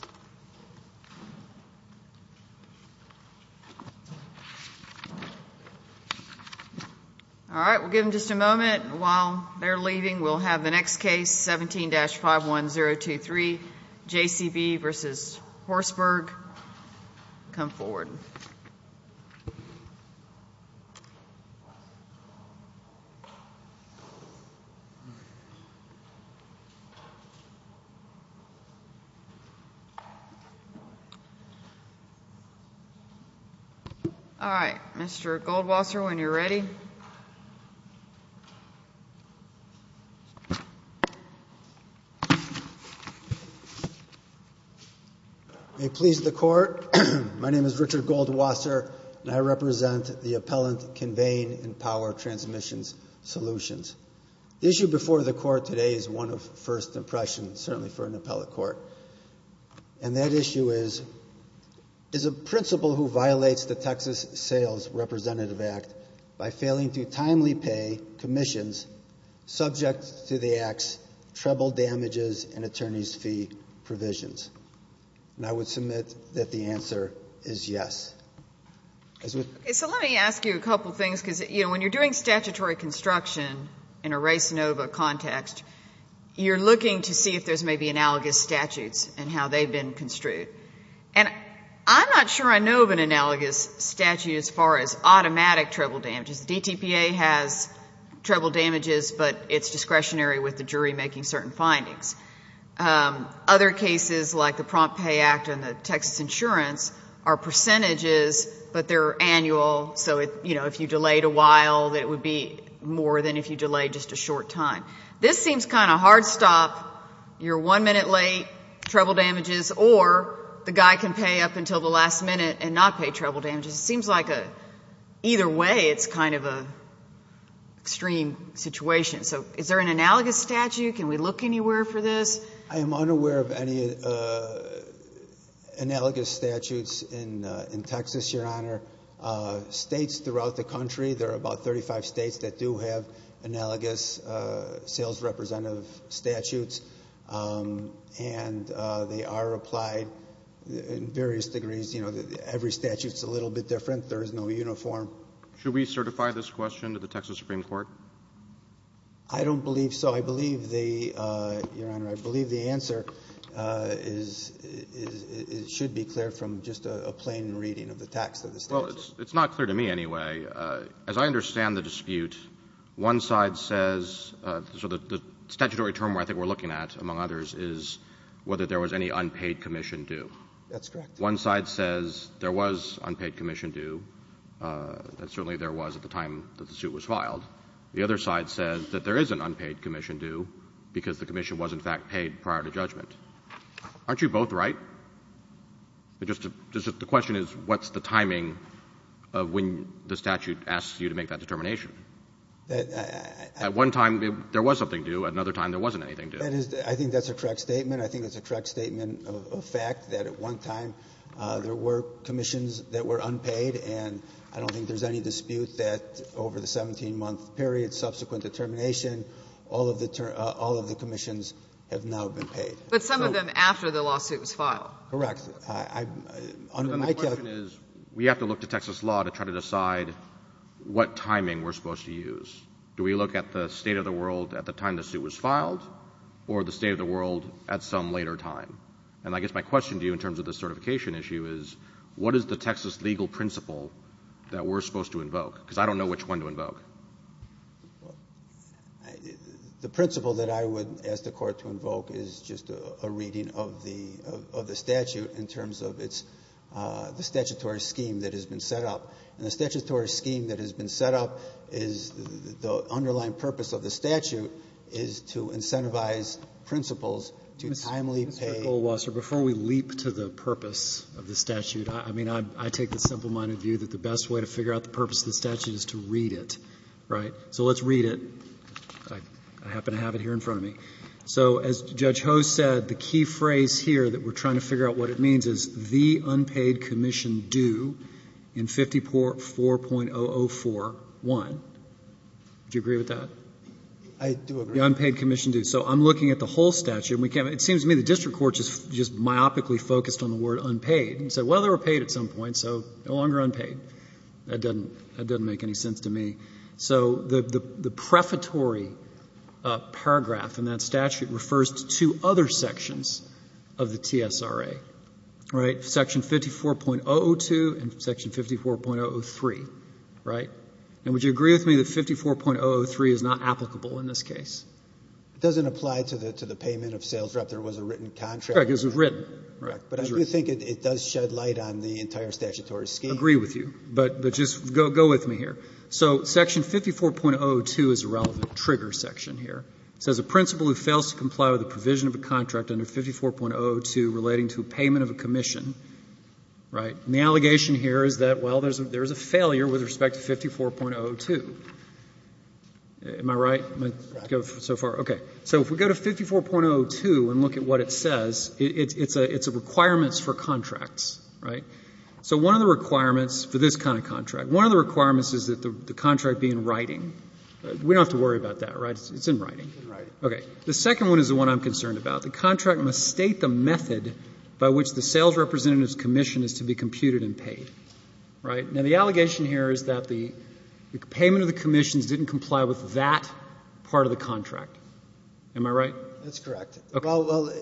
All right, we'll give them just a moment. While they're leaving, we'll have the next case, 17-51023, JCB v. Horsburgh, come forward. All right, Mr. Goldwasser, when you're ready. May it please the court, my name is Richard Goldwasser, and I represent the appellant Convane and Power Transmissions Solutions. The issue before the court today is one of first impressions, certainly for an appellate court. And that issue is, is a principal who can only timely pay commissions subject to the Act's treble damages and attorney's fee provisions. And I would submit that the answer is yes. Okay, so let me ask you a couple things, because, you know, when you're doing statutory construction in a res nova context, you're looking to see if there's maybe analogous statutes and how they've been construed. And I'm not sure I know of an analogous statute as far as automatic treble damages. DTPA has treble damages, but it's discretionary with the jury making certain findings. Other cases like the Prompt Pay Act and the Texas Insurance are percentages, but they're annual, so, you know, if you delayed a while, it would be more than if you delayed just a short time. This seems kind of hard stop, you're one minute late, treble damages, or the guy can pay up until the last minute and not pay treble damages. It seems like either way it's kind of an extreme situation. So is there an analogous statute? Can we look anywhere for this? I am unaware of any analogous statutes in Texas, Your Honor. States throughout the country, there are about 35 states that do have analogous sales representative statutes, and they are Should we certify this question to the Texas Supreme Court? I don't believe so. I believe the, Your Honor, I believe the answer should be clear from just a plain reading of the text of the statute. It's not clear to me anyway. As I understand the dispute, one side says, so the statutory term I think we're looking at, among others, is whether there was any unpaid commission due. That's correct. One side says there was unpaid commission due, and certainly there was at the time that the suit was filed. The other side says that there is an unpaid commission due because the commission was in fact paid prior to judgment. Aren't you both right? The question is what's the timing of when the statute asks you to make that determination? At one time I think that's a correct statement. I think it's a correct statement of fact that at one time there were commissions that were unpaid, and I don't think there's any dispute that over the 17-month period, subsequent to termination, all of the commissions have now been paid. But some of them after the lawsuit was filed. Correct. The question is, we have to look to Texas law to try to decide what timing we're supposed to use. Do we look at the state of the world at the time the suit was filed, or the state of the world at some later time? And I guess my question to you in terms of the certification issue is, what is the Texas legal principle that we're supposed to invoke? Because I don't know which one to invoke. The principle that I would ask the Court to invoke is just a reading of the statute in terms of the statutory scheme that has been set up. And the statutory scheme that has been set up is the underlying purpose of the statute is to incentivize principals to timely pay. Mr. Goldwasser, before we leap to the purpose of the statute, I mean, I take the simple-minded view that the best way to figure out the purpose of the statute is to read it, right? So let's read it. I happen to have it here in front of me. So as Judge Ho said, the key phrase here that we're trying to figure out what it means is the unpaid commission due in 54.004.1. Do you agree with that? I do agree. The unpaid commission due. So I'm looking at the whole statute. It seems to me the district court just myopically focused on the word unpaid and said, well, they were paid at some point, so no longer unpaid. That doesn't make any sense to me. So the prefatory paragraph in that statute refers to two other sections of the TSRA, right? Section 54.002 and section 54.003, right? And would you agree with me that 54.003 is not applicable in this case? It doesn't apply to the payment of sales rep. There was a written contract. Correct, because it was written. Correct. But I do think it does shed light on the entire statutory scheme. Agree with you. But just go with me here. So section 54.002 is a relevant trigger section here. It says a principal who fails to comply with the provision of a contract under 54.002 relating to a payment of a commission, right? And the allegation here is that, well, there's a failure with respect to 54.002. Am I right so far? Correct. Okay. So if we go to 54.002 and look at what it says, it's a requirements for contracts, right? So one of the requirements for this kind of contract, one of the requirements is that the contract be in writing. We don't have to worry about that, right? It's in writing. It's in writing. Okay. The second one is the one I'm concerned about. The contract must state the method by which the sales representative's commission is to be computed and paid, right? Now, the allegation here is that the payment of the commissions didn't comply with that part of the contract. Am I right? That's correct. Okay. Well,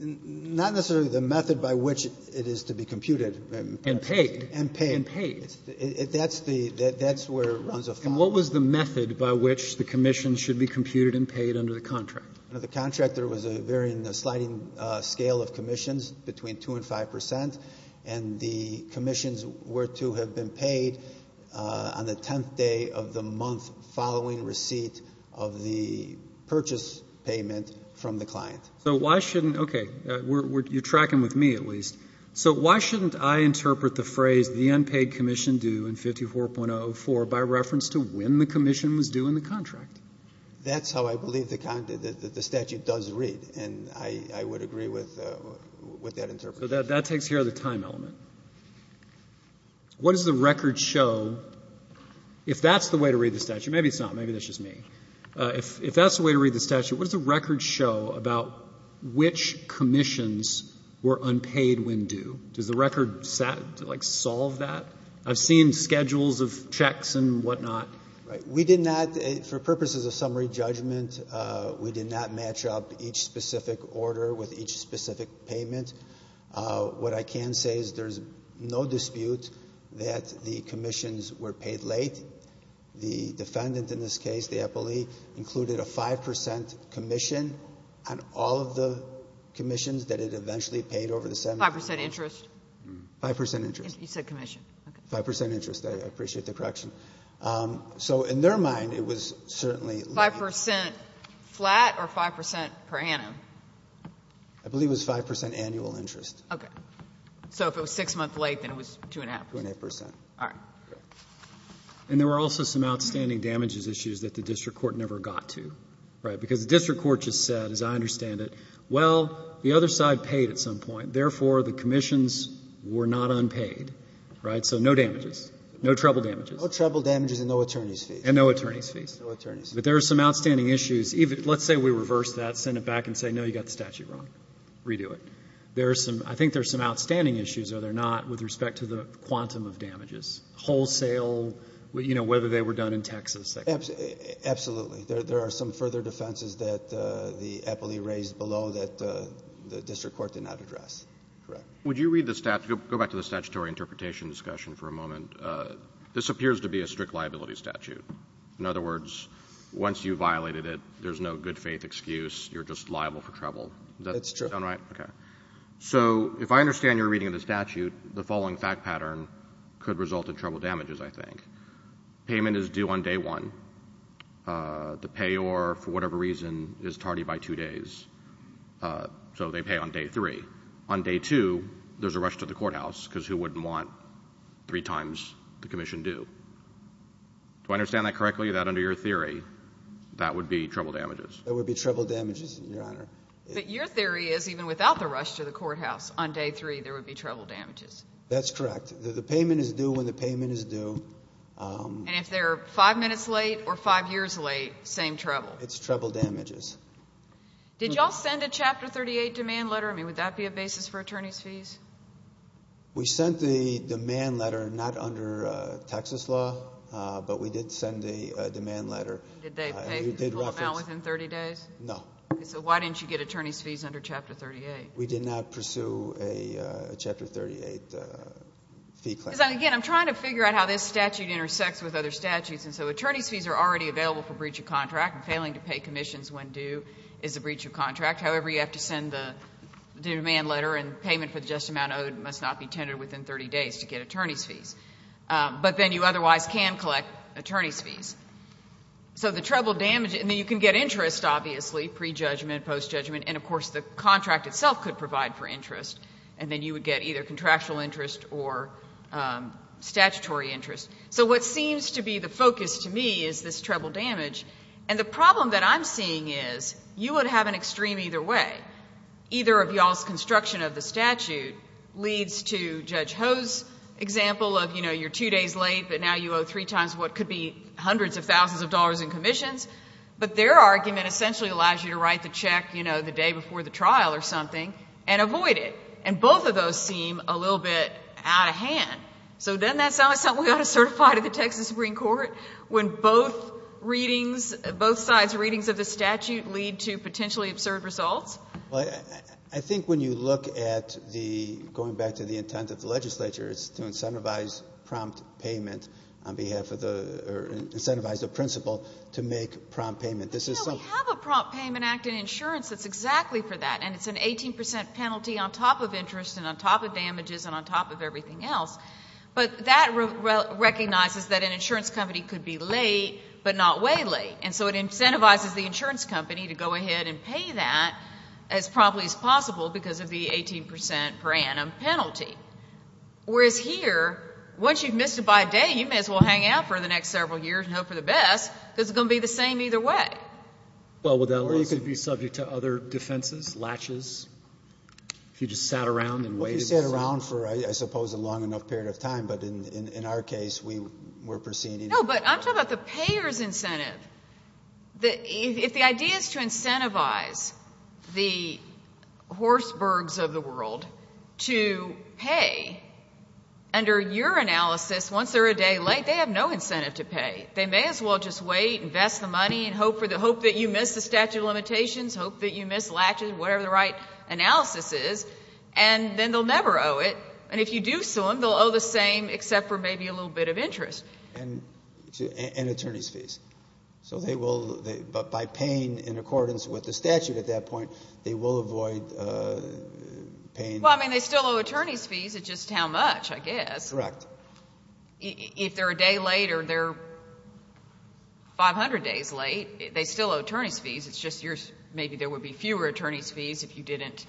not necessarily the method by which it is to be computed and paid. And paid. And paid. That's the — that's where it runs afoul. Now, what was the method by which the commission should be computed and paid under the contract? The contract, there was a very sliding scale of commissions between 2 and 5 percent, and the commissions were to have been paid on the tenth day of the month following receipt of the purchase payment from the client. So why shouldn't — okay. You're tracking with me, at least. So why shouldn't I interpret the phrase the unpaid commission due in 54.04 by reference to when the commission was due in the contract? That's how I believe the statute does read, and I would agree with that interpretation. That takes care of the time element. What does the record show — if that's the way to read the statute — maybe it's not, maybe that's just me. If that's the way to read the statute, what does the record show about which commissions were unpaid when due? Does the record, like, solve that? I've seen schedules of checks and whatnot. Right. We did not — for purposes of summary judgment, we did not match up each specific order with each specific payment. What I can say is there's no dispute that the commissions were paid late. The defendant in this case, the appellee, included a 5 percent commission on all of the commissions that it eventually paid over the seven months. 5 percent interest? 5 percent interest. You said commission. 5 percent interest. I appreciate the correction. So in their mind, it was certainly late. 5 percent flat or 5 percent per annum? I believe it was 5 percent annual interest. Okay. So if it was six months late, then it was two and a half percent. Two and a half percent. All right. And there were also some outstanding damages issues that the district court never got to. Because the district court just said, as I understand it, well, the other side paid at some point. Therefore, the commissions were not unpaid. Right? So no damages. No trouble damages. No trouble damages and no attorney's fees. And no attorney's fees. No attorney's fees. But there are some outstanding issues. Let's say we reverse that, send it back and say, no, you got the statute wrong. Redo it. There are some — I think there are some outstanding issues, are there not, with respect to the quantum of damages? Wholesale — you know, whether they were done in Texas. Absolutely. There are some further defenses that the appellee raised below that the district court did not address. Correct. Would you read the — go back to the statutory interpretation discussion for a moment. This appears to be a strict liability statute. In other words, once you violated it, there's no good-faith excuse. You're just liable for trouble. That's true. Does that sound right? Okay. So if I understand your reading of the statute, the following fact pattern could result in trouble damages, I think. Payment is due on day one. The payor, for whatever reason, is tardy by two days. So they pay on day three. On day two, there's a rush to the courthouse, because who wouldn't want three times the commission due? Do I understand that correctly, that under your theory, that would be trouble damages? That would be trouble damages, Your Honor. But your theory is even without the rush to the courthouse on day three, there would be trouble damages. That's correct. The payment is due when the payment is due. And if they're five minutes late or five years late, same trouble. It's trouble damages. Did you all send a Chapter 38 demand letter? I mean, would that be a basis for attorney's fees? We sent the demand letter not under Texas law, but we did send a demand letter. Did they pay the full amount within 30 days? No. So why didn't you get attorney's fees under Chapter 38? We did not pursue a Chapter 38 fee claim. Because, again, I'm trying to figure out how this statute intersects with other statutes. And so attorney's fees are already available for breach of contract. Failing to pay commissions when due is a breach of contract. However, you have to send the demand letter and payment for the just amount owed must not be tendered within 30 days to get attorney's fees. But then you otherwise can collect attorney's fees. So the trouble damages, and then you can get interest, obviously, pre-judgment, post-judgment. And, of course, the contract itself could provide for interest. And then you would get either contractual interest or statutory interest. So what seems to be the focus to me is this treble damage. And the problem that I'm seeing is you would have an extreme either way. Either of y'all's construction of the statute leads to Judge Ho's example of, you know, you're two days late, but now you owe three times what could be hundreds of thousands of dollars in commissions. But their argument essentially allows you to write the check, you know, the day before the trial or something, and avoid it. And both of those seem a little bit out of hand. So doesn't that sound like something we ought to certify to the Texas Supreme Court when both readings, both sides' readings of the statute lead to potentially absurd results? Well, I think when you look at the, going back to the intent of the legislature, it's to incentivize prompt payment on behalf of the, or incentivize the principal to make prompt payment. No, we have a prompt payment act in insurance that's exactly for that. And it's an 18 percent penalty on top of interest and on top of damages and on top of everything else. But that recognizes that an insurance company could be late, but not way late. And so it incentivizes the insurance company to go ahead and pay that as promptly as possible because of the 18 percent per annum penalty. Whereas here, once you've missed it by a day, you may as well hang out for the next several years and hope for the best because it's going to be the same either way. Or you could be subject to other defenses, latches, if you just sat around and waited. If you sat around for, I suppose, a long enough period of time. But in our case, we're proceeding. No, but I'm talking about the payer's incentive. If the idea is to incentivize the horsebergs of the world to pay, under your analysis, once they're a day late, they have no incentive to pay. They may as well just wait, invest the money, and hope that you missed the statute of limitations, hope that you missed latches, whatever the right analysis is. And then they'll never owe it. And if you do sue them, they'll owe the same except for maybe a little bit of interest. And attorney's fees. So they will, but by paying in accordance with the statute at that point, they will avoid paying. Well, I mean, they still owe attorney's fees. It's just how much, I guess. Correct. So if they're a day late or they're 500 days late, they still owe attorney's fees. It's just maybe there would be fewer attorney's fees if you didn't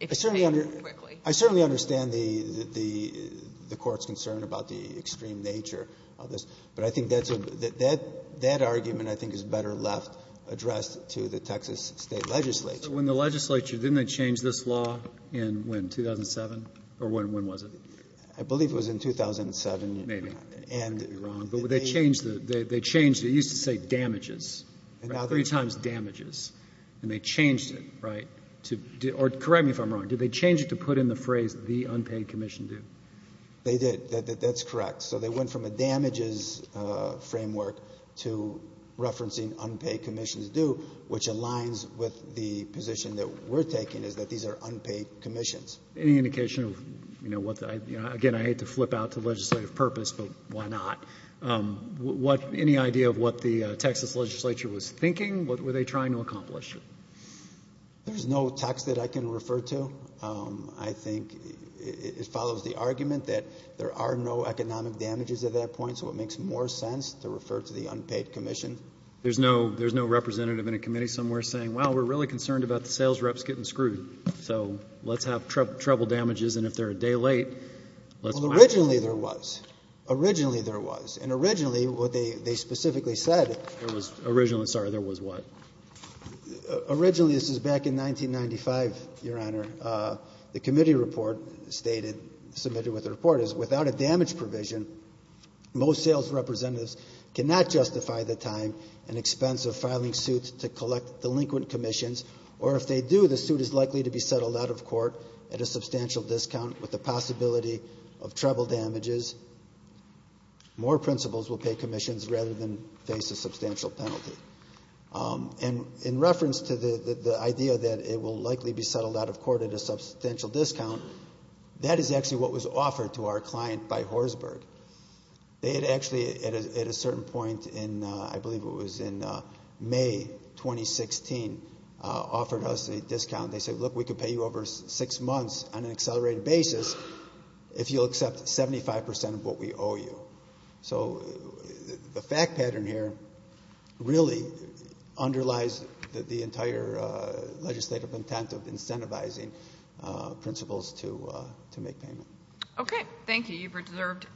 pay them quickly. I certainly understand the Court's concern about the extreme nature of this. But I think that argument, I think, is better left addressed to the Texas State legislature. So when the legislature, didn't they change this law in when, 2007? Or when was it? I believe it was in 2007. Maybe. I could be wrong. But they changed it. It used to say damages. Three times damages. And they changed it. Correct me if I'm wrong. Did they change it to put in the phrase the unpaid commission due? They did. That's correct. So they went from a damages framework to referencing unpaid commissions due, which aligns with the position that we're taking is that these are unpaid commissions. Any indication of what, again, I hate to flip out to legislative purpose, but why not? Any idea of what the Texas legislature was thinking? What were they trying to accomplish? There's no text that I can refer to. I think it follows the argument that there are no economic damages at that point. So it makes more sense to refer to the unpaid commission. There's no representative in a committee somewhere saying, well, we're really concerned about the sales reps getting screwed. So let's have trouble damages. And if they're a day late, let's. Originally there was. Originally there was. And originally what they specifically said. It was originally. Sorry. There was what? Originally this is back in 1995. Your honor. The committee report stated submitted with the report is without a damage provision. Most sales representatives cannot justify the time and expense of filing suits to collect delinquent commissions. Or if they do, the suit is likely to be settled out of court at a substantial discount with the possibility of trouble damages. More principals will pay commissions rather than face a substantial penalty. And in reference to the, the idea that it will likely be settled out of court at a substantial discount. That is actually what was offered to our client by Horsberg. They had actually at a, at a certain point in, I believe it was in May 2016 offered us a discount. They said, look, we could pay you over six months on an accelerated basis if you'll accept 75% of what we owe you. So the fact pattern here really underlies that the entire legislative intent of incentivizing principals to, to make payment. Okay. Thank you. Mr. Weber deserved.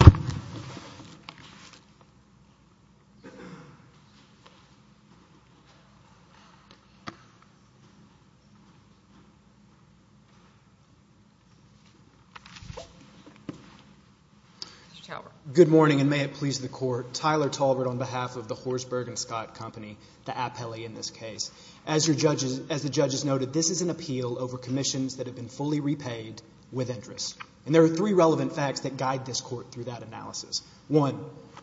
Good morning and may it please the court, Tyler Talbert on behalf of the Horsberg and Scott company, the appellee in this case, as your judges, as the judges noted, this is an appeal over commissions that have been fully repaid with interest. And there are three relevant facts that guide this court through that analysis. One,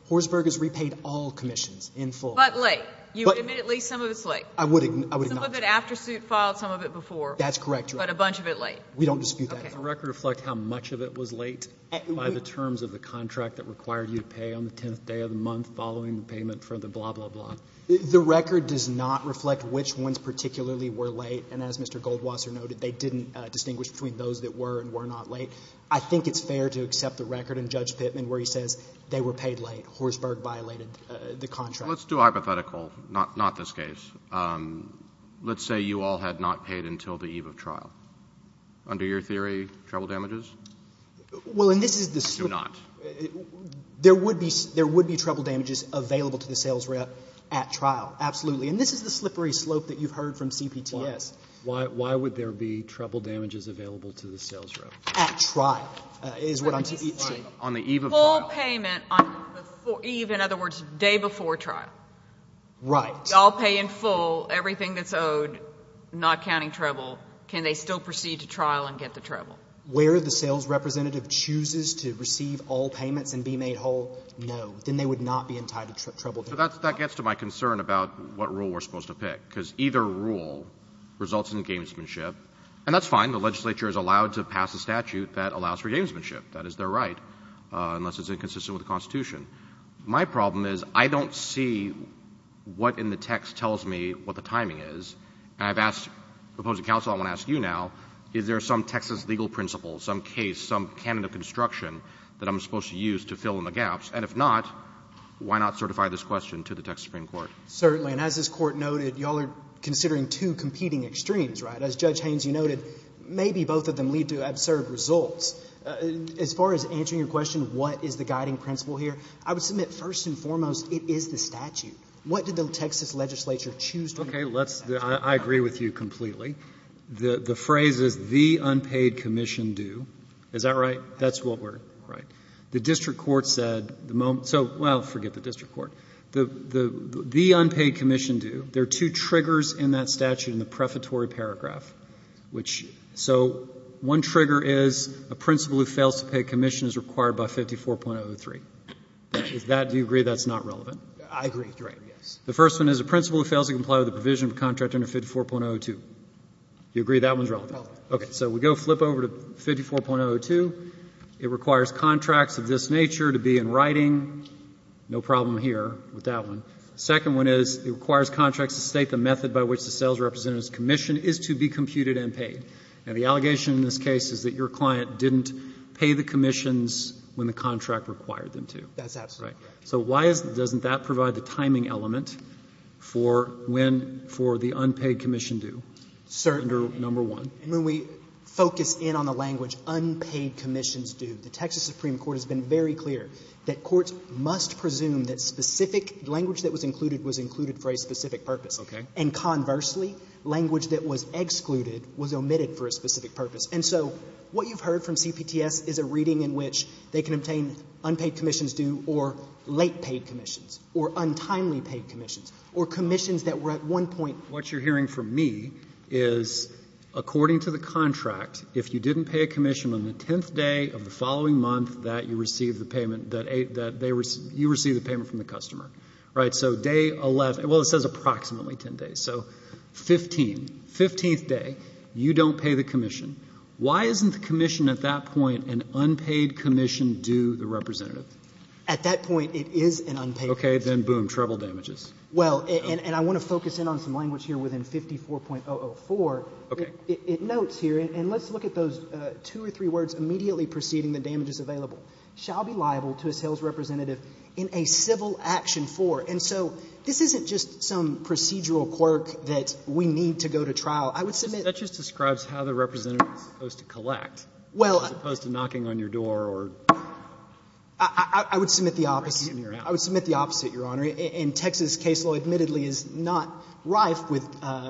Horsberg has repaid all commissions in full. But late. You admit at least some of it's late. I would, I would. Some of it after suit filed, some of it before. That's correct. But a bunch of it late. We don't dispute that. Does the record reflect how much of it was late by the terms of the contract that required you to pay on the 10th day of the month, following the payment for the blah, blah, blah. The record does not reflect which ones particularly were late. And as Mr. Goldwasser noted, they didn't distinguish between those that were and were not late. I think it's fair to accept the record in Judge Pittman where he says they were paid late. Horsberg violated the contract. Well, let's do hypothetical, not this case. Let's say you all had not paid until the eve of trial. Under your theory, trouble damages? Well, and this is the slip. Do not. There would be, there would be trouble damages available to the sales rep at trial. Absolutely. And this is the slippery slope that you've heard from CPTS. Why would there be trouble damages available to the sales rep? At trial is what I'm saying. On the eve of trial. Full payment on the eve, in other words, day before trial. Right. Y'all pay in full, everything that's owed, not counting trouble. Can they still proceed to trial and get the trouble? Where the sales representative chooses to receive all payments and be made whole, no. Then they would not be entitled to trouble damages. So that gets to my concern about what rule we're supposed to pick, because either rule results in gamesmanship. And that's fine. The legislature is allowed to pass a statute that allows for gamesmanship. That is their right, unless it's inconsistent with the Constitution. My problem is I don't see what in the text tells me what the timing is. And I've asked opposing counsel, I want to ask you now, is there some Texas legal principle, some case, some canon of construction that I'm supposed to use to fill in the gaps? And if not, why not certify this question to the Texas Supreme Court? Certainly. And as this Court noted, y'all are considering two competing extremes, right? As Judge Haines, you noted, maybe both of them lead to absurd results. As far as answering your question, what is the guiding principle here, I would submit first and foremost it is the statute. What did the Texas legislature choose to do with the statute? Okay. I agree with you completely. The phrase is the unpaid commission do. Is that right? That's what we're, right. The district court said the moment, so, well, forget the district court. The unpaid commission do, there are two triggers in that statute in the prefatory paragraph. So one trigger is a principal who fails to pay commission is required by 54.03. Do you agree that's not relevant? I agree with you. The first one is a principal who fails to comply with the provision of contract under 54.02. Do you agree that one's relevant? Okay. So we go flip over to 54.02. It requires contracts of this nature to be in writing. No problem here with that one. The second one is it requires contracts to state the method by which the sales representative's commission is to be computed and paid. And the allegation in this case is that your client didn't pay the commissions when the contract required them to. That's absolutely correct. So why doesn't that provide the timing element for when, for the unpaid commission do under number one? And when we focus in on the language unpaid commissions do, the Texas Supreme Court has been very clear that courts must presume that specific language that was included was included for a specific purpose. Okay. And conversely, language that was excluded was omitted for a specific purpose. And so what you've heard from CPTS is a reading in which they can obtain unpaid commissions do or late paid commissions or untimely paid commissions or commissions that were at one point. What you're hearing from me is according to the contract, if you didn't pay a commission on the 10th day of the following month that you received the payment from the customer. Right? So day 11. Well, it says approximately 10 days. So 15, 15th day, you don't pay the commission. Why isn't the commission at that point an unpaid commission do the representative? At that point, it is an unpaid commission. Okay. Then, boom, trouble damages. Well, and I want to focus in on some language here within 54.004. Okay. It notes here. And let's look at those two or three words immediately preceding the damages available. Shall be liable to a sales representative in a civil action for. And so this isn't just some procedural quirk that we need to go to trial. I would submit. That just describes how the representative is supposed to collect. Well. As opposed to knocking on your door or. I would submit the opposite. I would submit the opposite, Your Honor. And Texas case law admittedly is not rife with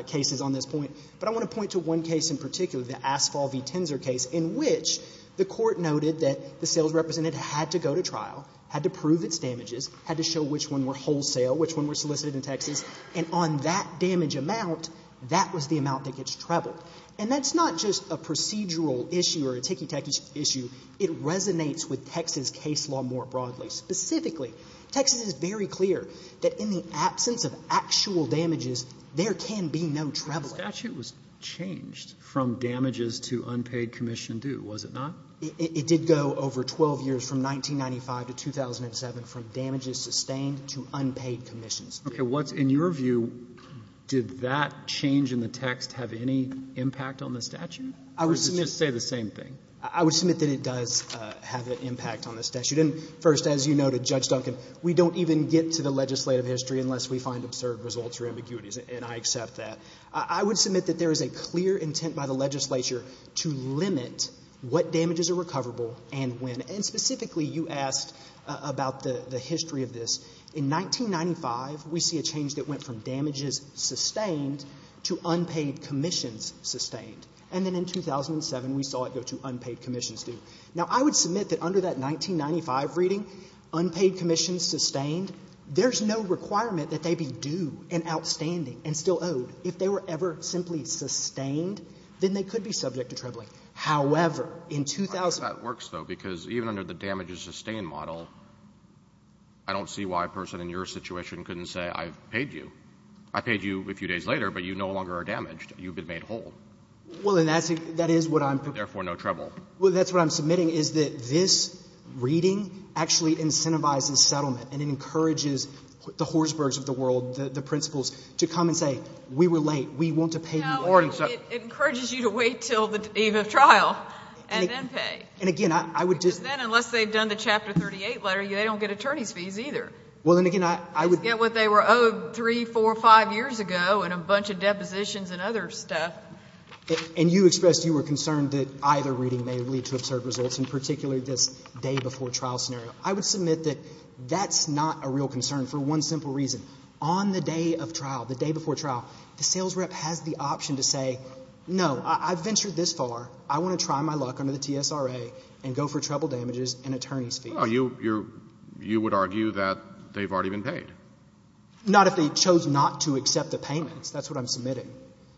cases on this point. But I want to point to one case in particular, the Asphalt v. Tenzer case. In which the court noted that the sales representative had to go to trial. Had to prove its damages. Had to show which one were wholesale. Which one were solicited in Texas. And on that damage amount, that was the amount that gets troubled. And that's not just a procedural issue or a ticky-tacky issue. It resonates with Texas case law more broadly. Specifically, Texas is very clear that in the absence of actual damages, there can be no trouble. But the statute was changed from damages to unpaid commission due, was it not? It did go over 12 years, from 1995 to 2007, from damages sustained to unpaid commissions. Okay. What's in your view, did that change in the text have any impact on the statute? Or did it just say the same thing? I would submit that it does have an impact on the statute. And first, as you noted, Judge Duncan, we don't even get to the legislative history unless we find absurd results or ambiguities. And I accept that. I would submit that there is a clear intent by the legislature to limit what damages are recoverable and when. And specifically, you asked about the history of this. In 1995, we see a change that went from damages sustained to unpaid commissions sustained. And then in 2007, we saw it go to unpaid commissions due. Now, I would submit that under that 1995 reading, unpaid commissions sustained, there's no requirement that they be due and outstanding and still owed. If they were ever simply sustained, then they could be subject to trebling. However, in 2000 — I wonder how that works, though, because even under the damages sustained model, I don't see why a person in your situation couldn't say, I've paid you. I paid you a few days later, but you no longer are damaged. You've been made whole. Well, and that is what I'm — Therefore, no treble. Well, that's what I'm submitting, is that this reading actually incentivizes settlement and it encourages the Horsbergs of the world, the principals, to come and say, we were late. We want to pay you more. It encourages you to wait until the eve of trial and then pay. And again, I would just — Because then, unless they've done the Chapter 38 letter, they don't get attorney's fees either. Well, and again, I would — Just get what they were owed three, four, five years ago and a bunch of depositions and other stuff. And you expressed you were concerned that either reading may lead to absurd results, in particular this day-before-trial scenario. I would submit that that's not a real concern for one simple reason. On the day of trial, the day before trial, the sales rep has the option to say, no, I've ventured this far. I want to try my luck under the TSRA and go for treble damages and attorney's fees. Well, you would argue that they've already been paid. Not if they chose not to accept the payments. That's what I'm submitting,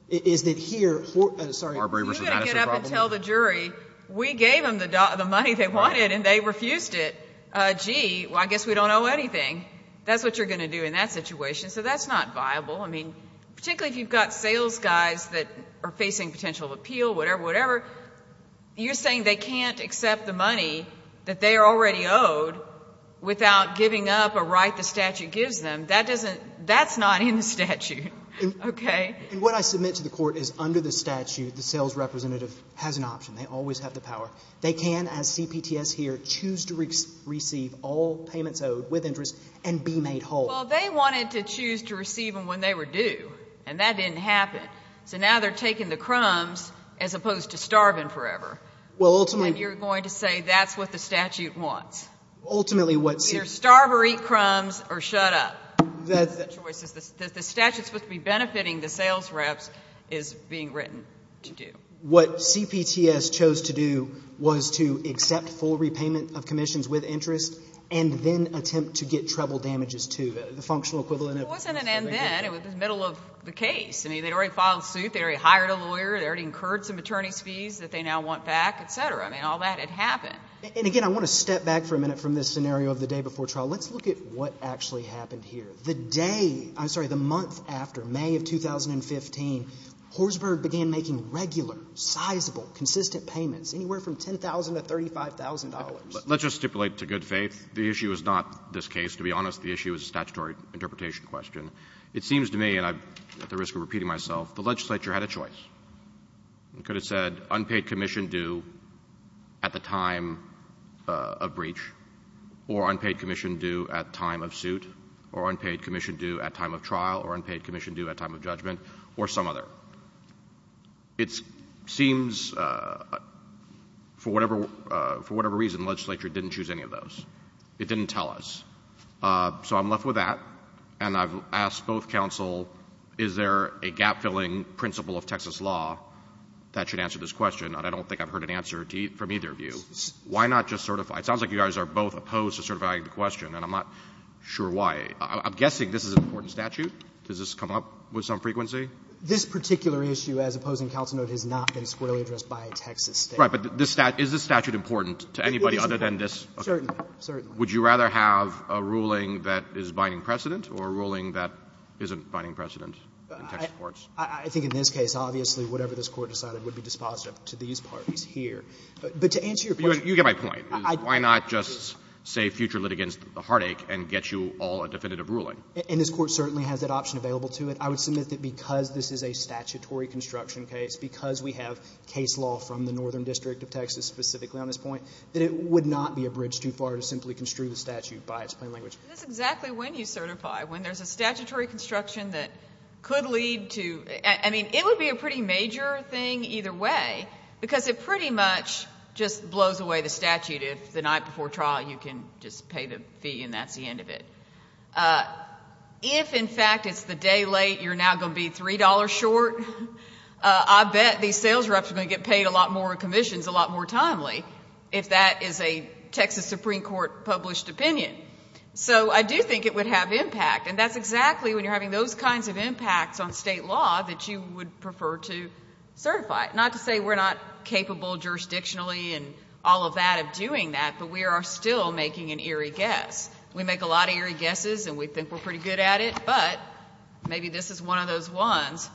is that here — You've got to get up and tell the jury we gave them the money they wanted and they refused it. Gee, well, I guess we don't owe anything. That's what you're going to do in that situation. So that's not viable. I mean, particularly if you've got sales guys that are facing potential appeal, whatever, whatever, you're saying they can't accept the money that they are already owed without giving up a right the statute gives them. That doesn't — that's not in the statute. Okay? And what I submit to the Court is under the statute, the sales representative has an option. They always have the power. They can, as CPTS here, choose to receive all payments owed with interest and be made whole. Well, they wanted to choose to receive them when they were due, and that didn't happen. So now they're taking the crumbs as opposed to starving forever. Well, ultimately — And you're going to say that's what the statute wants. Ultimately, what — Either starve or eat crumbs or shut up. That's the choice. The statute's supposed to be benefiting the sales reps is being written to do. What CPTS chose to do was to accept full repayment of commissions with interest and then attempt to get treble damages, too. The functional equivalent of — It wasn't an and-then. It was the middle of the case. I mean, they'd already filed suit. They already hired a lawyer. They already incurred some attorney's fees that they now want back, et cetera. I mean, all that had happened. And, again, I want to step back for a minute from this scenario of the day before trial. Let's look at what actually happened here. The day — I'm sorry, the month after, May of 2015, Horsburgh began making regular, sizable, consistent payments, anywhere from $10,000 to $35,000. Let's just stipulate to good faith the issue is not this case. To be honest, the issue is a statutory interpretation question. It seems to me, and I'm at the risk of repeating myself, the legislature had a choice. It could have said unpaid commission due at the time of breach, or unpaid commission due at time of suit, or unpaid commission due at time of trial, or unpaid commission due at time of judgment, or some other. It seems, for whatever reason, the legislature didn't choose any of those. It didn't tell us. So I'm left with that, and I've asked both counsel, is there a gap-filling principle of Texas law that should answer this question? And I don't think I've heard an answer from either of you. Why not just certify? It sounds like you guys are both opposed to certifying the question, and I'm not sure why. I'm guessing this is an important statute. Does this come up with some frequency? This particular issue, as opposing counsel noted, has not been squarely addressed by a Texas state. Right, but is this statute important to anybody other than this? Certainly. Would you rather have a ruling that is binding precedent or a ruling that isn't binding precedent in Texas courts? I think in this case, obviously, whatever this Court decided would be dispositive to these parties here. But to answer your question. You get my point. Why not just say future litigants heartache and get you all a definitive ruling? And this Court certainly has that option available to it. I would submit that because this is a statutory construction case, because we have case law from the Northern District of Texas specifically on this point, that it would not be a bridge too far to simply construe the statute by its plain language. That's exactly when you certify, when there's a statutory construction that could lead to I mean, it would be a pretty major thing either way, because it pretty much just blows away the statute if the night before trial you can just pay the fee and that's the end of it. If, in fact, it's the day late, you're now going to be $3 short, I bet these sales reps are going to get paid a lot more commissions a lot more timely if that is a Texas Supreme Court published opinion. So I do think it would have impact. And that's exactly when you're having those kinds of impacts on state law that you would prefer to certify. Not to say we're not capable jurisdictionally and all of that of doing that, but we are still making an eerie guess. We make a lot of eerie guesses and we think we're pretty good at it, but maybe this is one of those ones.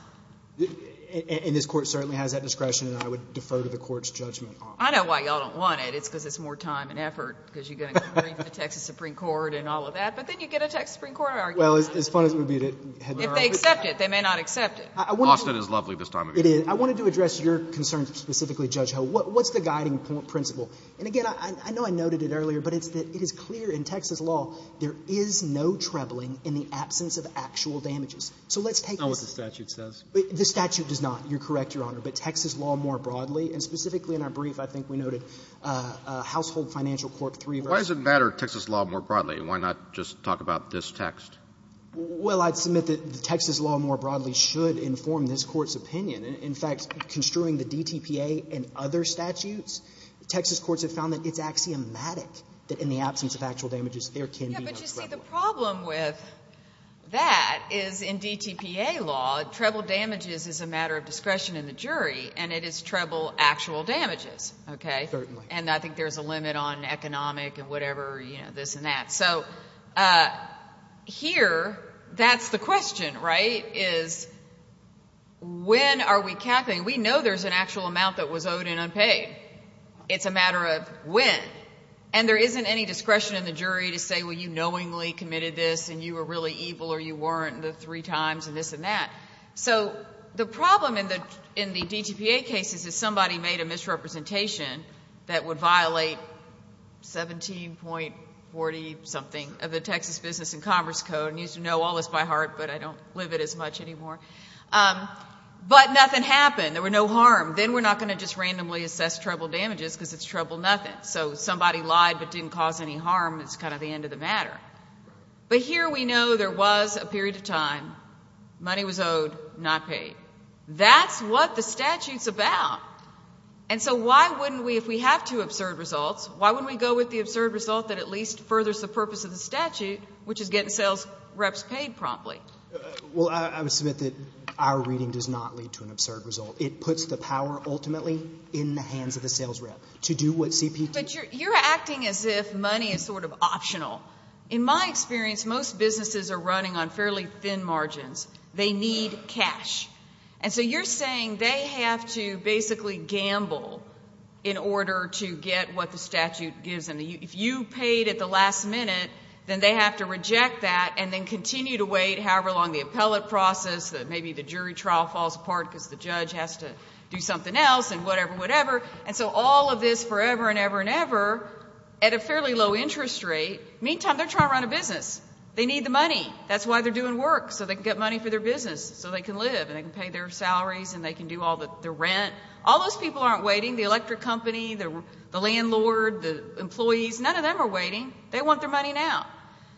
And this Court certainly has that discretion and I would defer to the Court's judgment on that. I know why you all don't want it. It's because it's more time and effort because you're going to go to the Texas Supreme Court and all of that. But then you get a Texas Supreme Court argument. Well, as fun as it would be to have that argument. If they accept it. They may not accept it. Austin is lovely this time of year. It is. I wanted to address your concerns specifically, Judge Ho. What's the guiding principle? And, again, I know I noted it earlier, but it's that it is clear in Texas law there is no trebling in the absence of actual damages. So let's take this. Not what the statute says. The statute does not. You're correct, Your Honor. But Texas law more broadly, and specifically in our brief, I think we noted Household Financial Court 3. Why does it matter, Texas law more broadly? Why not just talk about this text? Well, I'd submit that Texas law more broadly should inform this Court's opinion. In fact, construing the DTPA and other statutes, Texas courts have found that it's axiomatic that in the absence of actual damages there can be no trebling. Yes, but you see, the problem with that is in DTPA law, treble damages is a matter of discretion in the jury, and it is treble actual damages, okay? Certainly. And I think there's a limit on economic and whatever, you know, this and that. So here, that's the question, right, is when are we calculating? We know there's an actual amount that was owed and unpaid. It's a matter of when. And there isn't any discretion in the jury to say, well, you knowingly committed this and you were really evil or you weren't the three times and this and that. So the problem in the DTPA cases is somebody made a misrepresentation that would violate 17.40-something of the Texas Business and Commerce Code. I used to know all this by heart, but I don't live it as much anymore. But nothing happened. There were no harm. Then we're not going to just randomly assess treble damages because it's treble nothing. So somebody lied but didn't cause any harm. It's kind of the end of the matter. But here we know there was a period of time. Money was owed, not paid. That's what the statute's about. And so why wouldn't we, if we have two absurd results, why wouldn't we go with the absurd result that at least furthers the purpose of the statute, which is getting sales reps paid promptly? Well, I would submit that our reading does not lead to an absurd result. It puts the power ultimately in the hands of the sales rep to do what CPT. But you're acting as if money is sort of optional. In my experience, most businesses are running on fairly thin margins. They need cash. And so you're saying they have to basically gamble in order to get what the statute gives them. If you paid at the last minute, then they have to reject that and then continue to wait however long the appellate process, maybe the jury trial falls apart because the judge has to do something else and whatever, whatever. And so all of this forever and ever and ever at a fairly low interest rate. Meantime, they're trying to run a business. They need the money. That's why they're doing work, so they can get money for their business so they can live and they can pay their salaries and they can do all the rent. All those people aren't waiting, the electric company, the landlord, the employees. None of them are waiting. They want their money now.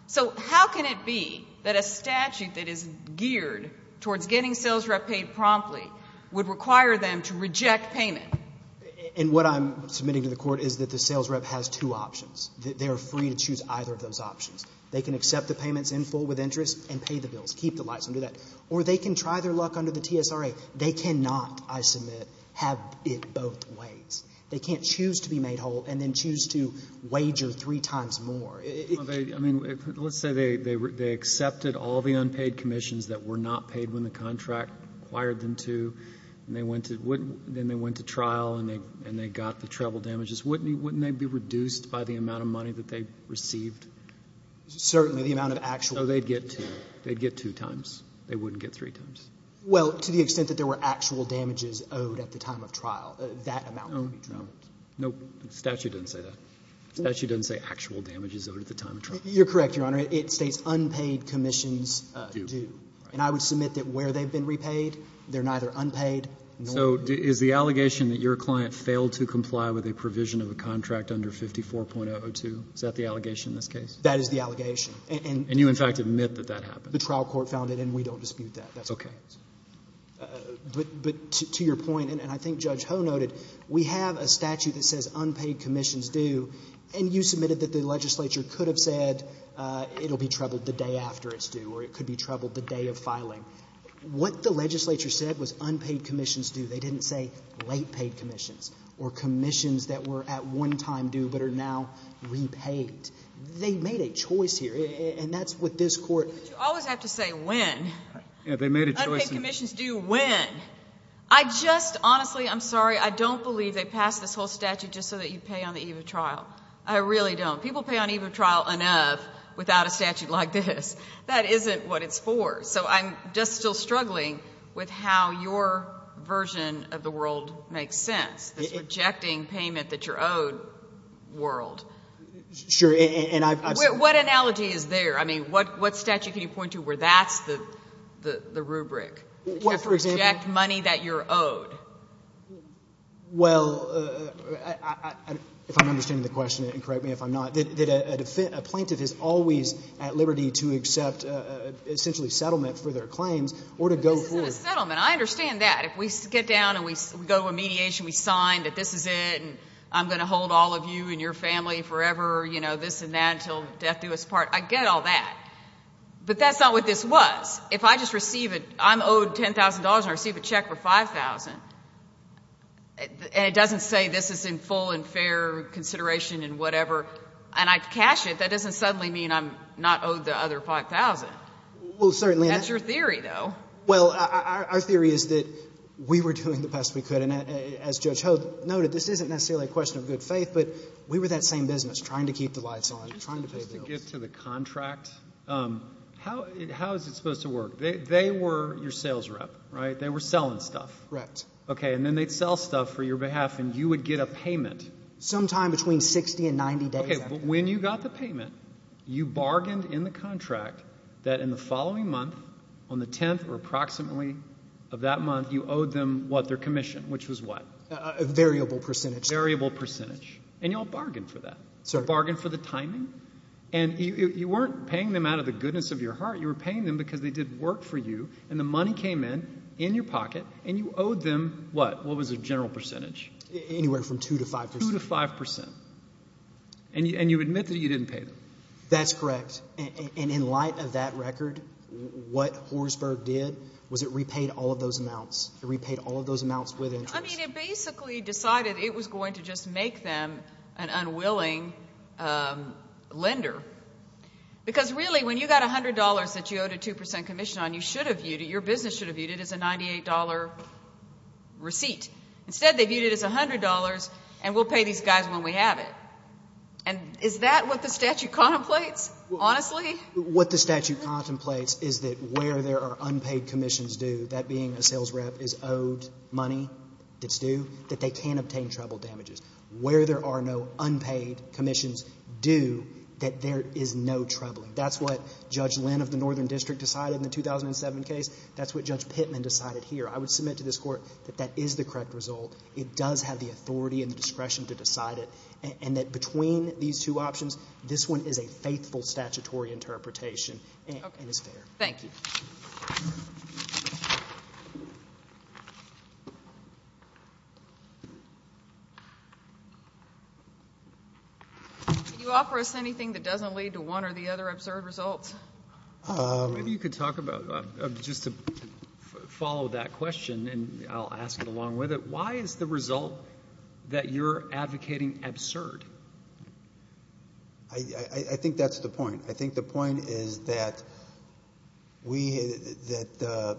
So how can it be that a statute that is geared towards getting sales reps paid promptly would require them to reject payment? And what I'm submitting to the Court is that the sales rep has two options. They are free to choose either of those options. They can accept the payments in full with interest and pay the bills, keep the lights under that, or they can try their luck under the TSRA. They cannot, I submit, have it both ways. They can't choose to be made whole and then choose to wager three times more. I mean, let's say they accepted all the unpaid commissions that were not paid when the contract required them to and then they went to trial and they got the travel damages. Wouldn't they be reduced by the amount of money that they received? Certainly, the amount of actual. So they'd get two. They'd get two times. They wouldn't get three times. Well, to the extent that there were actual damages owed at the time of trial, that amount would be trialed. No, the statute doesn't say that. The statute doesn't say actual damages owed at the time of trial. You're correct, Your Honor. It states unpaid commissions due. And I would submit that where they've been repaid, they're neither unpaid nor due. So is the allegation that your client failed to comply with a provision of a contract under 54.002, is that the allegation in this case? That is the allegation. And you, in fact, admit that that happened. The trial court found it, and we don't dispute that. That's what happens. Okay. But to your point, and I think Judge Ho noted, we have a statute that says unpaid commissions due, or it could be troubled the day of filing. What the legislature said was unpaid commissions due. They didn't say late paid commissions or commissions that were at one time due but are now repaid. They made a choice here, and that's what this court— But you always have to say when. Yeah, they made a choice. Unpaid commissions due when? I just—honestly, I'm sorry. I don't believe they passed this whole statute just so that you pay on the eve of trial. I really don't. People pay on the eve of trial enough without a statute like this. That isn't what it's for. So I'm just still struggling with how your version of the world makes sense, this rejecting payment that you're owed world. Sure, and I've— What analogy is there? I mean, what statute can you point to where that's the rubric? For example— To reject money that you're owed. Well, if I'm understanding the question, and correct me if I'm not, that a plaintiff is always at liberty to accept essentially settlement for their claims or to go forward. This isn't a settlement. I understand that. If we get down and we go to a mediation, we sign that this is it, and I'm going to hold all of you and your family forever, this and that, until death do us part, I get all that. But that's not what this was. If I just receive a—I'm owed $10,000 and I receive a check for $5,000, and it doesn't say this is in full and fair consideration and whatever, and I cash it, that doesn't suddenly mean I'm not owed the other $5,000. Well, certainly— That's your theory, though. Well, our theory is that we were doing the best we could, and as Judge Hogue noted, this isn't necessarily a question of good faith, but we were that same business, trying to keep the lights on, trying to pay bills. How is it supposed to work? They were your sales rep, right? They were selling stuff. Right. Okay, and then they'd sell stuff for your behalf, and you would get a payment. Sometime between 60 and 90 days. Okay, but when you got the payment, you bargained in the contract that in the following month, on the 10th or approximately of that month, you owed them what, their commission, which was what? Variable percentage. Variable percentage. And you all bargained for that. You bargained for the timing, and you weren't paying them out of the goodness of your heart. You were paying them because they did work for you, and the money came in, in your pocket, and you owed them what? What was the general percentage? Anywhere from 2 to 5 percent. 2 to 5 percent. And you admit that you didn't pay them. That's correct, and in light of that record, what Horsburgh did was it repaid all of those amounts. It repaid all of those amounts with interest. I mean, it basically decided it was going to just make them an unwilling lender. Because, really, when you got $100 that you owed a 2 percent commission on, you should have viewed it, your business should have viewed it as a $98 receipt. Instead, they viewed it as $100, and we'll pay these guys when we have it. And is that what the statute contemplates, honestly? What the statute contemplates is that where there are unpaid commissions due, that being a sales rep is owed money that's due, that they can't obtain treble damages. Where there are no unpaid commissions due, that there is no trebling. That's what Judge Lynn of the Northern District decided in the 2007 case. That's what Judge Pittman decided here. I would submit to this Court that that is the correct result. It does have the authority and the discretion to decide it. And that between these two options, this one is a faithful statutory interpretation and is fair. Thank you. Can you offer us anything that doesn't lead to one or the other absurd results? Maybe you could talk about, just to follow that question, and I'll ask it along with it. Why is the result that you're advocating absurd? I think that's the point. I think the point is that the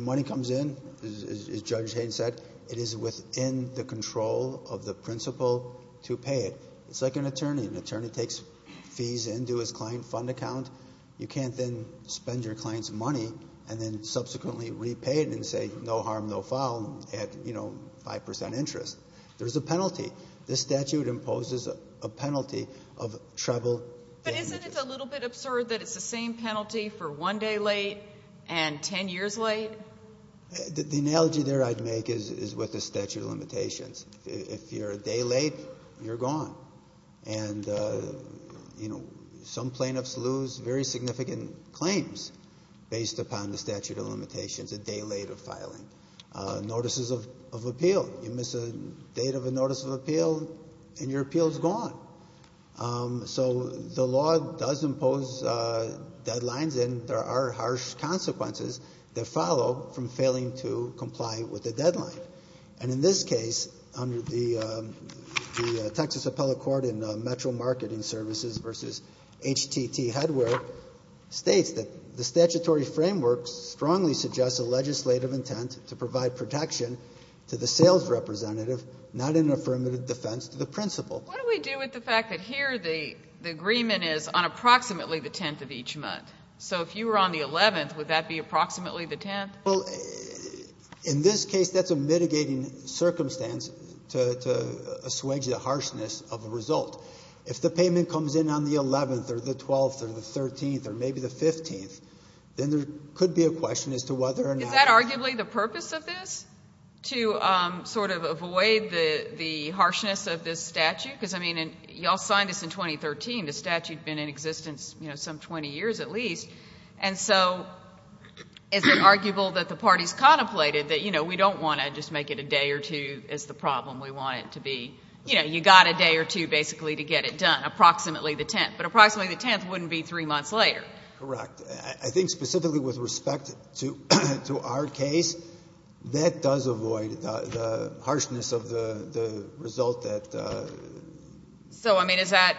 money comes in, as Judge Hayden said, it is within the control of the principal to pay it. It's like an attorney. An attorney takes fees into his client fund account. You can't then spend your client's money and then subsequently repay it and say no harm, no foul at 5% interest. There's a penalty. This statute imposes a penalty of treble damages. But isn't it a little bit absurd that it's the same penalty for one day late and ten years late? The analogy there I'd make is with the statute of limitations. If you're a day late, you're gone. And, you know, some plaintiffs lose very significant claims based upon the statute of limitations a day late of filing. Notices of appeal, you miss a date of a notice of appeal and your appeal is gone. So the law does impose deadlines and there are harsh consequences that follow from failing to comply with the deadline. And in this case, under the Texas Appellate Court in Metro Marketing Services v. HTT Headware, states that the statutory framework strongly suggests a legislative intent to provide protection to the sales representative, not in affirmative defense to the principal. What do we do with the fact that here the agreement is on approximately the 10th of each month? So if you were on the 11th, would that be approximately the 10th? Well, in this case, that's a mitigating circumstance to assuage the harshness of a result. If the payment comes in on the 11th or the 12th or the 13th or maybe the 15th, then there could be a question as to whether or not. Is that arguably the purpose of this, to sort of avoid the harshness of this statute? Because, I mean, you all signed this in 2013. The statute had been in existence, you know, some 20 years at least. And so is it arguable that the parties contemplated that, you know, we don't want to just make it a day or two as the problem. We want it to be, you know, you got a day or two basically to get it done, approximately the 10th. But approximately the 10th wouldn't be three months later. Correct. I think specifically with respect to our case, that does avoid the harshness of the result that... So, I mean, is that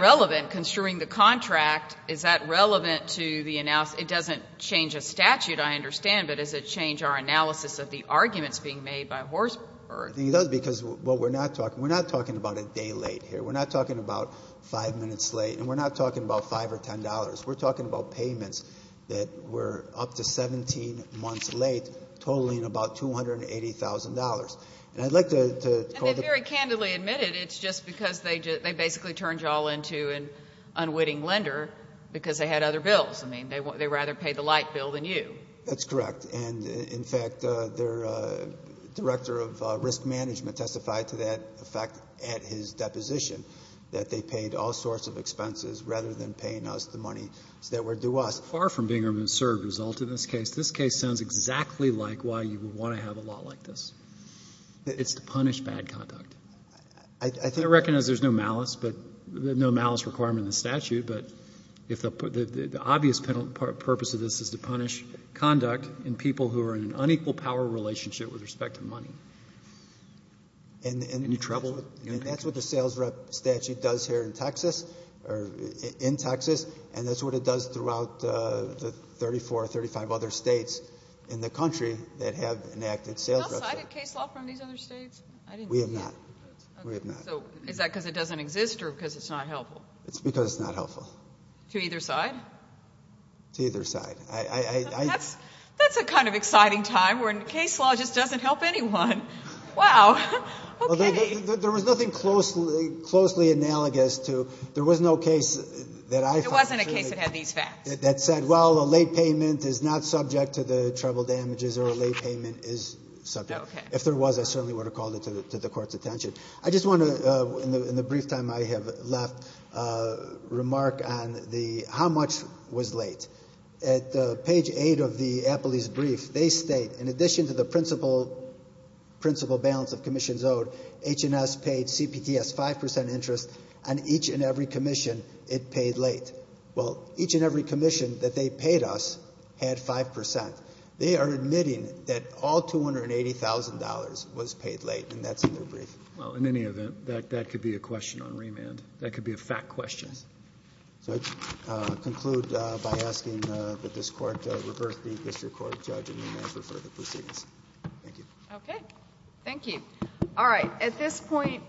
relevant? Construing the contract, is that relevant to the... It doesn't change a statute, I understand, but does it change our analysis of the arguments being made by Horsberg? I think it does because what we're not talking... We're not talking about a day late here. We're not talking about five minutes late. And we're not talking about $5 or $10. We're talking about payments that were up to 17 months late, totaling about $280,000. And I'd like to... because they had other bills. I mean, they rather pay the light bill than you. That's correct. And, in fact, their director of risk management testified to that fact at his deposition, that they paid all sorts of expenses rather than paying us the money that were due us. Far from being an absurd result in this case. This case sounds exactly like why you would want to have a law like this. It's to punish bad conduct. I recognize there's no malice requirement in the statute, but the obvious purpose of this is to punish conduct in people who are in an unequal power relationship with respect to money. Any trouble? That's what the sales rep statute does here in Texas, and that's what it does throughout the 34 or 35 other states in the country that have enacted sales reps. No, I did case law from these other states. We have not. We have not. So is that because it doesn't exist or because it's not helpful? It's because it's not helpful. To either side? To either side. That's a kind of exciting time when case law just doesn't help anyone. Wow. Okay. There was nothing closely analogous to... There was no case that I... There wasn't a case that had these facts. That said, well, a late payment is not subject to the trouble damages or a late payment is subject. Okay. If there was, I certainly would have called it to the court's attention. I just want to, in the brief time I have left, remark on the how much was late. At page 8 of the Apley's brief, they state, in addition to the principal balance of commissions owed, H&S paid CPTS 5% interest on each and every commission it paid late. Well, each and every commission that they paid us had 5%. They are admitting that all $280,000 was paid late, and that's in their brief. Well, in any event, that could be a question on remand. That could be a fact question. Yes. So I conclude by asking that this Court reverse the history court judge and remand for further proceedings. Thank you. Okay. Thank you. All right. At this point...